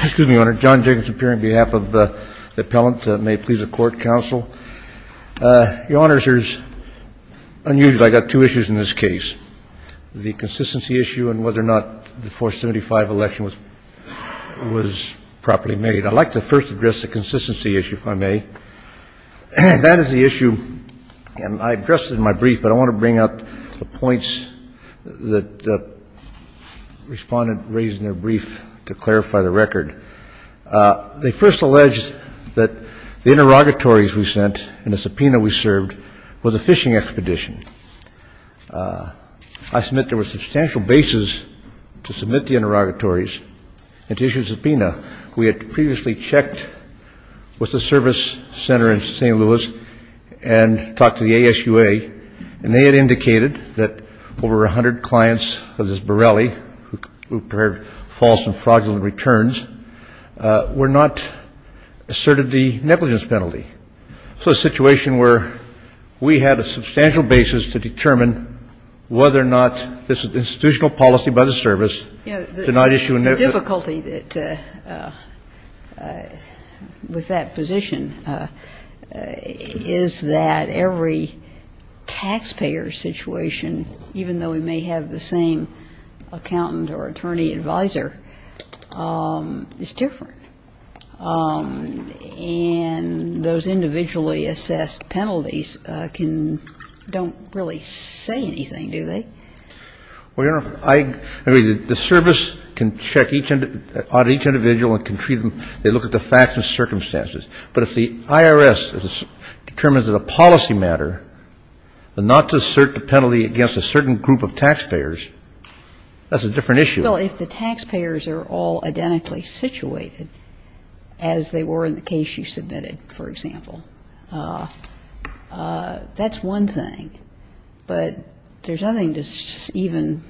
Excuse me, Your Honor. John Jacobson, appearing on behalf of the appellant. May it please the Court, counsel. Your Honor, it's unusual. I've got two issues in this case. The consistency issue and whether or not the 475 election was properly made. I'd like to first address the consistency issue, if I may. That is the issue and I addressed it in my brief, but I want to bring up the points that the Respondent raised in their brief to clarify the record. They first alleged that the interrogatories we sent and the subpoena we served was a fishing expedition. I submit there were substantial bases to submit the interrogatories and to issue a subpoena. We had previously checked with the service center in St. Louis and talked to the ASUA, and they had indicated that over 100 clients of this Borelli, who preferred false and fraudulent returns, were not asserted the negligence penalty. So a situation where we had a substantial basis to determine whether or not this institutional policy by the service did not issue a negligence penalty. The difficulty with that position is that every taxpayer situation, even though we may have the same accountant or attorney advisor, is different. And those individually assessed penalties don't really say anything, do they? Well, Your Honor, I agree that the service can check each individual and can treat them, they look at the facts and circumstances. But if the IRS determines that a policy matter, not to assert the penalty against a certain group of taxpayers, that's a different issue. Well, if the taxpayers are all identically situated as they were in the case you submitted, for example, that's one thing. But there's nothing to even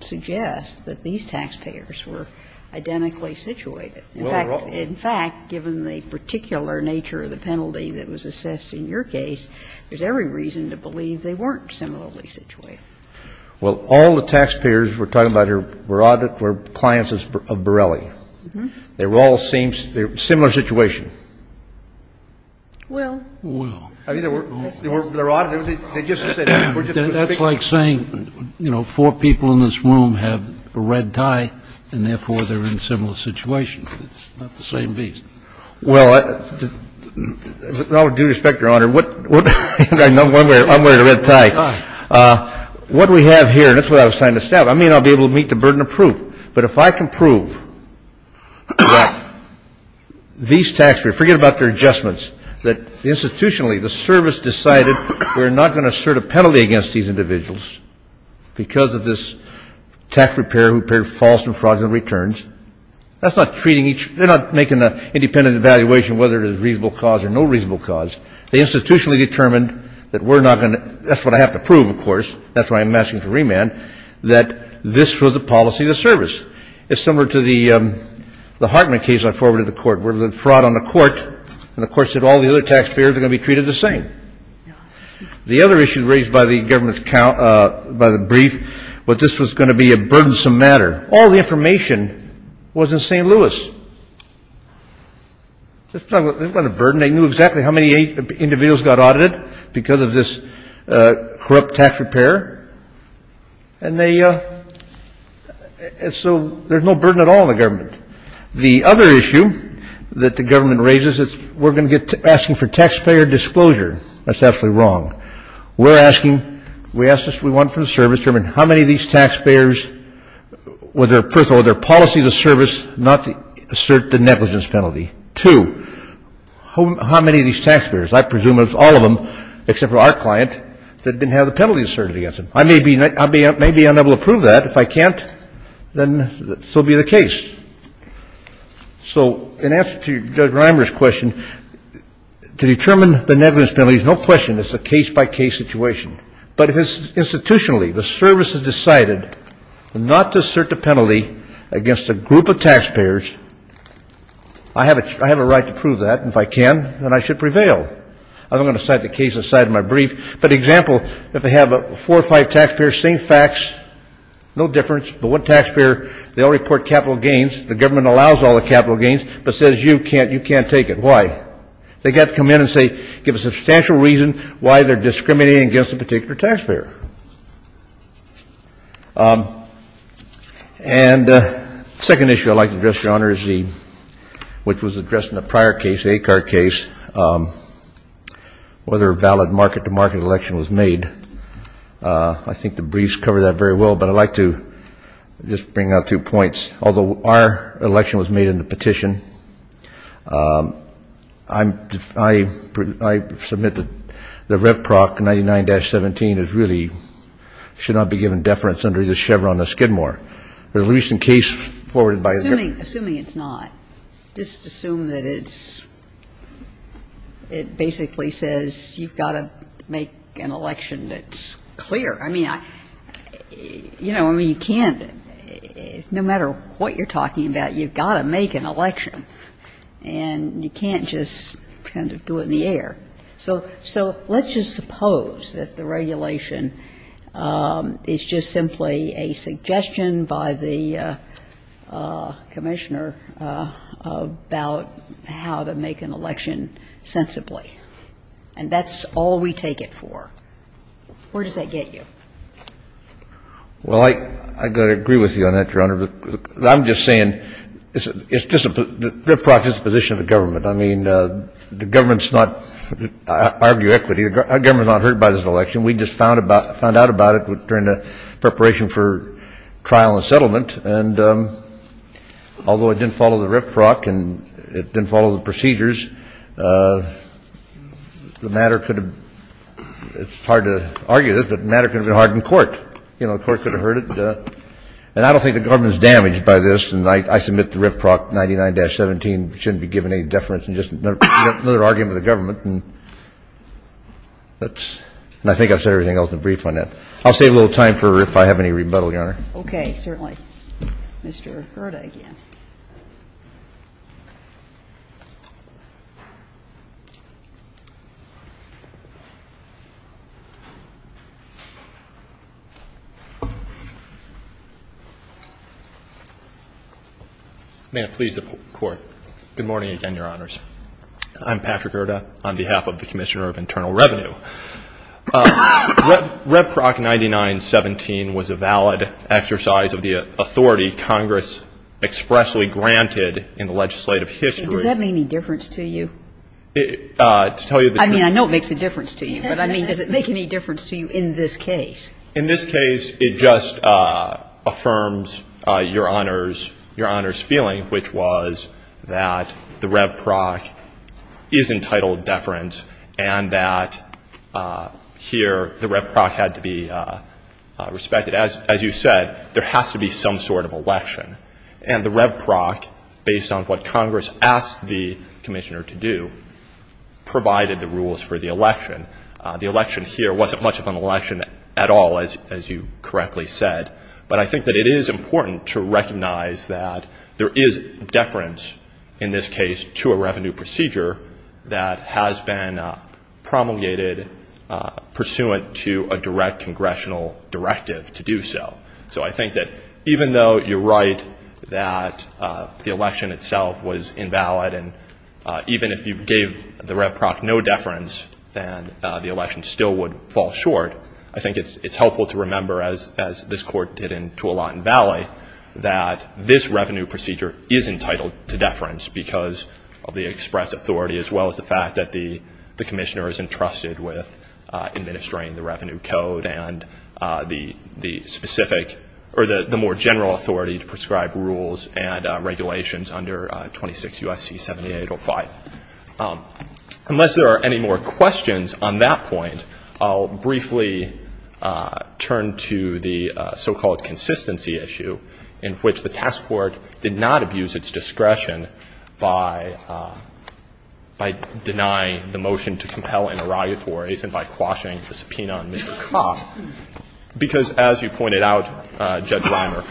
suggest that these taxpayers were identically situated. In fact, given the particular nature of the penalty that was assessed in your case, there's every reason to believe they weren't similarly situated. Well, all the taxpayers we're talking about here were clients of Borelli. They were all in a similar situation. Well, that's like saying, you know, four people in this room have a red tie and therefore they're in similar situations. It's not the same beast. Well, with all due respect, Your Honor, what we have here, and that's why I was trying to establish, I may not be able to meet the burden of proof, but if I can prove that these taxpayers, forget about their adjustments, that institutionally the service decided we're not going to assert a penalty against these individuals because of this tax preparer who prepared false and fraudulent returns, that's not treating each, they're not making an independent evaluation whether there's a reasonable cause or no reasonable cause. They institutionally determined that we're not going to, that's what I have to prove, of course, that's why I'm asking for remand, that this was the policy of the service. It's similar to the Hartman case I forwarded to the Court, where the fraud on the Court and the Court said all the other taxpayers are going to be treated the same. The other issue raised by the government's brief was this was going to be a burdensome matter. All the information was in St. Louis. They've got a burden. They knew exactly how many individuals got audited because of this corrupt tax preparer. And they, so there's no burden at all on the government. The other issue that the government raises is we're going to get, asking for taxpayer disclosure. That's absolutely wrong. We're asking, we asked this, we want from the service, determine how many of these taxpayers, whether, first of all, their policy of the service not to assert the negligence penalty. Two, how many of these taxpayers, I presume it's all of them, except for our client, that didn't have the penalty asserted against them. I may be unable to prove that. If I can't, then so be the case. So in answer to Judge Reimer's question, to determine the negligence penalty is no question. It's a case-by-case situation. But if it's institutionally, the service has decided not to assert the penalty against a group of taxpayers, I have a right to prove that. And if I can, then I should prevail. I'm not going to cite the case aside in my brief. But example, if they have four or five taxpayers, same facts, no difference, but one taxpayer, they all report capital gains. The government allows all the capital gains, but says you can't take it. Why? They've got to come in and say, give a substantial reason why they're discriminating against a particular taxpayer. And the second issue I'd like to address, Your Honor, is the, which was addressed in the prior case, the ACAR case, whether a valid market-to-market election was made. I think the briefs cover that very well, but I'd like to just bring out two points. Although our election was made in the petition, I submit that the rev proc 99-17 is really, should not be given deference under the Chevron or Skidmore. The recent case forwarded by the government. Sotomayor Assuming it's not, just assume that it's, it basically says you've got to make an election that's clear. I mean, I, you know, I mean, you can't, no matter what you're talking about, you've got to make an election. And you can't just kind of do it in the air. So, so let's just suppose that the regulation is just simply a suggestion by the Commissioner about how to make an election sensibly. And that's all we take it for. Where does that get you? Well, I, I've got to agree with you on that, Your Honor. I'm just saying it's, it's just a, the rev proc is a position of the government. I mean, the government's not, I argue equity, the government's not hurt by this election. We just found about, found out about it during the preparation for trial and settlement. And although it didn't follow the rev proc and it didn't follow the procedures, the matter could have, it's hard to argue this, but the matter could have been hard in court. You know, the court could have heard it. And I don't think the government's damaged by this. And I, I submit the rev proc 99-17 shouldn't be given any deference. And just another, another argument of the government. And that's, and I think I've said everything else in the brief on that. I'll save a little time for, if I have any rebuttal, Your Honor. Okay, certainly. Mr. Gerda, again. May it please the Court. Good morning again, Your Honors. I'm Patrick Gerda on behalf of the Commissioner of Internal Revenue. Rev, rev proc 99-17 was a valid exercise of the authority Congress expressly granted in the legislative history. Does that make any difference to you? To tell you the truth. I mean, I know it makes a difference to you. But I mean, does it make any difference to you in this case? In this case, it just affirms Your Honor's, Your Honor's feeling, which was that the rev proc is entitled deference and that here the rev proc had to be respected. As, as you said, there has to be some sort of election. And the rev proc, based on what Congress asked the Commissioner to do, provided the rules for the election. The election here wasn't much of an election at all, as, as you correctly said. But I think that it is important to recognize that there is deference in this case to a revenue procedure that has been promulgated pursuant to a direct congressional directive to do so. So I think that even though you're right that the election itself was invalid and even if you gave the rev proc no deference, then the election still would fall short. I think it's, it's helpful to remember, as, as this Court did in Tualatin Valley, that this revenue procedure is entitled to deference because of the express authority as well as the fact that the, the Commissioner is entrusted with administering the revenue code and the, the specific, or the, the more general authority to prescribe rules and regulations under 26 U.S.C. 7805. Unless there are any more questions on that point, I'll briefly turn to the so-called consistency issue in which the task force did not abuse its discretion by, by denying the motion to compel interrogatories and by quashing the subpoena on Mr. Kopp, because as you pointed out, Judge Reimer,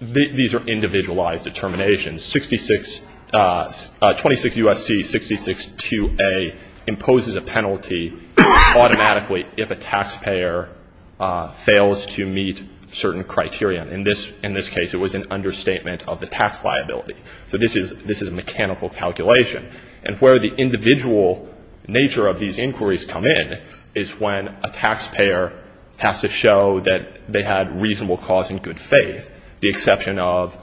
these are individualized determinations. 26 U.S.C. 66-2A imposes a penalty automatically if a taxpayer fails to meet certain criteria. In this, in this case, it was an understatement of the tax liability. So this is, this is a mechanical calculation. And where the individual nature of these inquiries come in is when a taxpayer has to show that they had reasonable cause and good faith, the exception of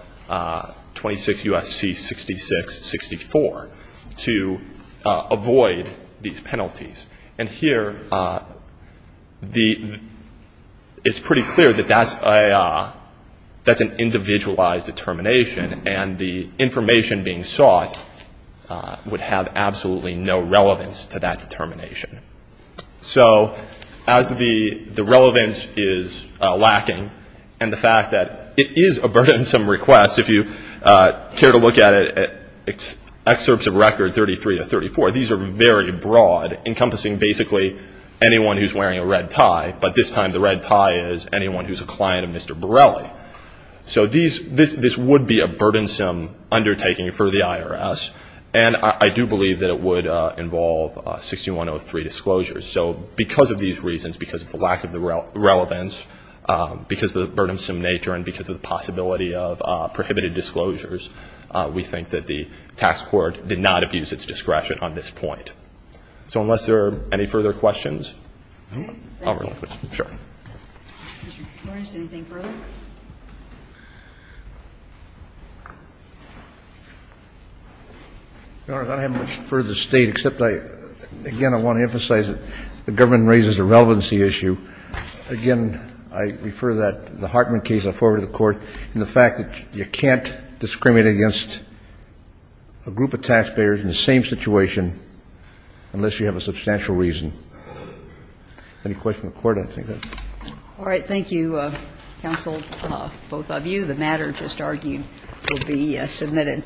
26 U.S.C. 66-64. To avoid these penalties. And here, the, it's pretty clear that that's a, that's an individualized determination, and the information being sought would have absolutely no relevance to that determination. So as the, the relevance is lacking, and the fact that it is a burdensome request, if you care to look at it, excerpts of record 33 to 34, these are very broad, encompassing basically anyone who's wearing a red tie, but this time the red tie is anyone who's a client of Mr. Borelli. So these, this, this would be a burdensome undertaking for the IRS, and I do believe that it would involve 6103 disclosures. So because of these reasons, because of the lack of the relevance, because of the burdensome nature, and because of the possibility of prohibited disclosures, we think that the tax court did not abuse its discretion on this point. So unless there are any further questions, I'll relinquish. Thank you. MR. GARRETT. MS. GOTTLIEB. Mr. Morris, anything further? MR. MORRIS. Your Honor, I don't have much further to state, except I, again, I want to emphasize that the government raises a relevancy issue. Again, I refer that the Hartman case, I'll forward it to the Court, and the fact that you can't discriminate against a group of taxpayers in the same situation unless you have a substantial reason. Any questions of the Court? I think that's it. MS. GOTTLIEB. All right. Thank you, counsel, both of you. The matter just argued will be submitted.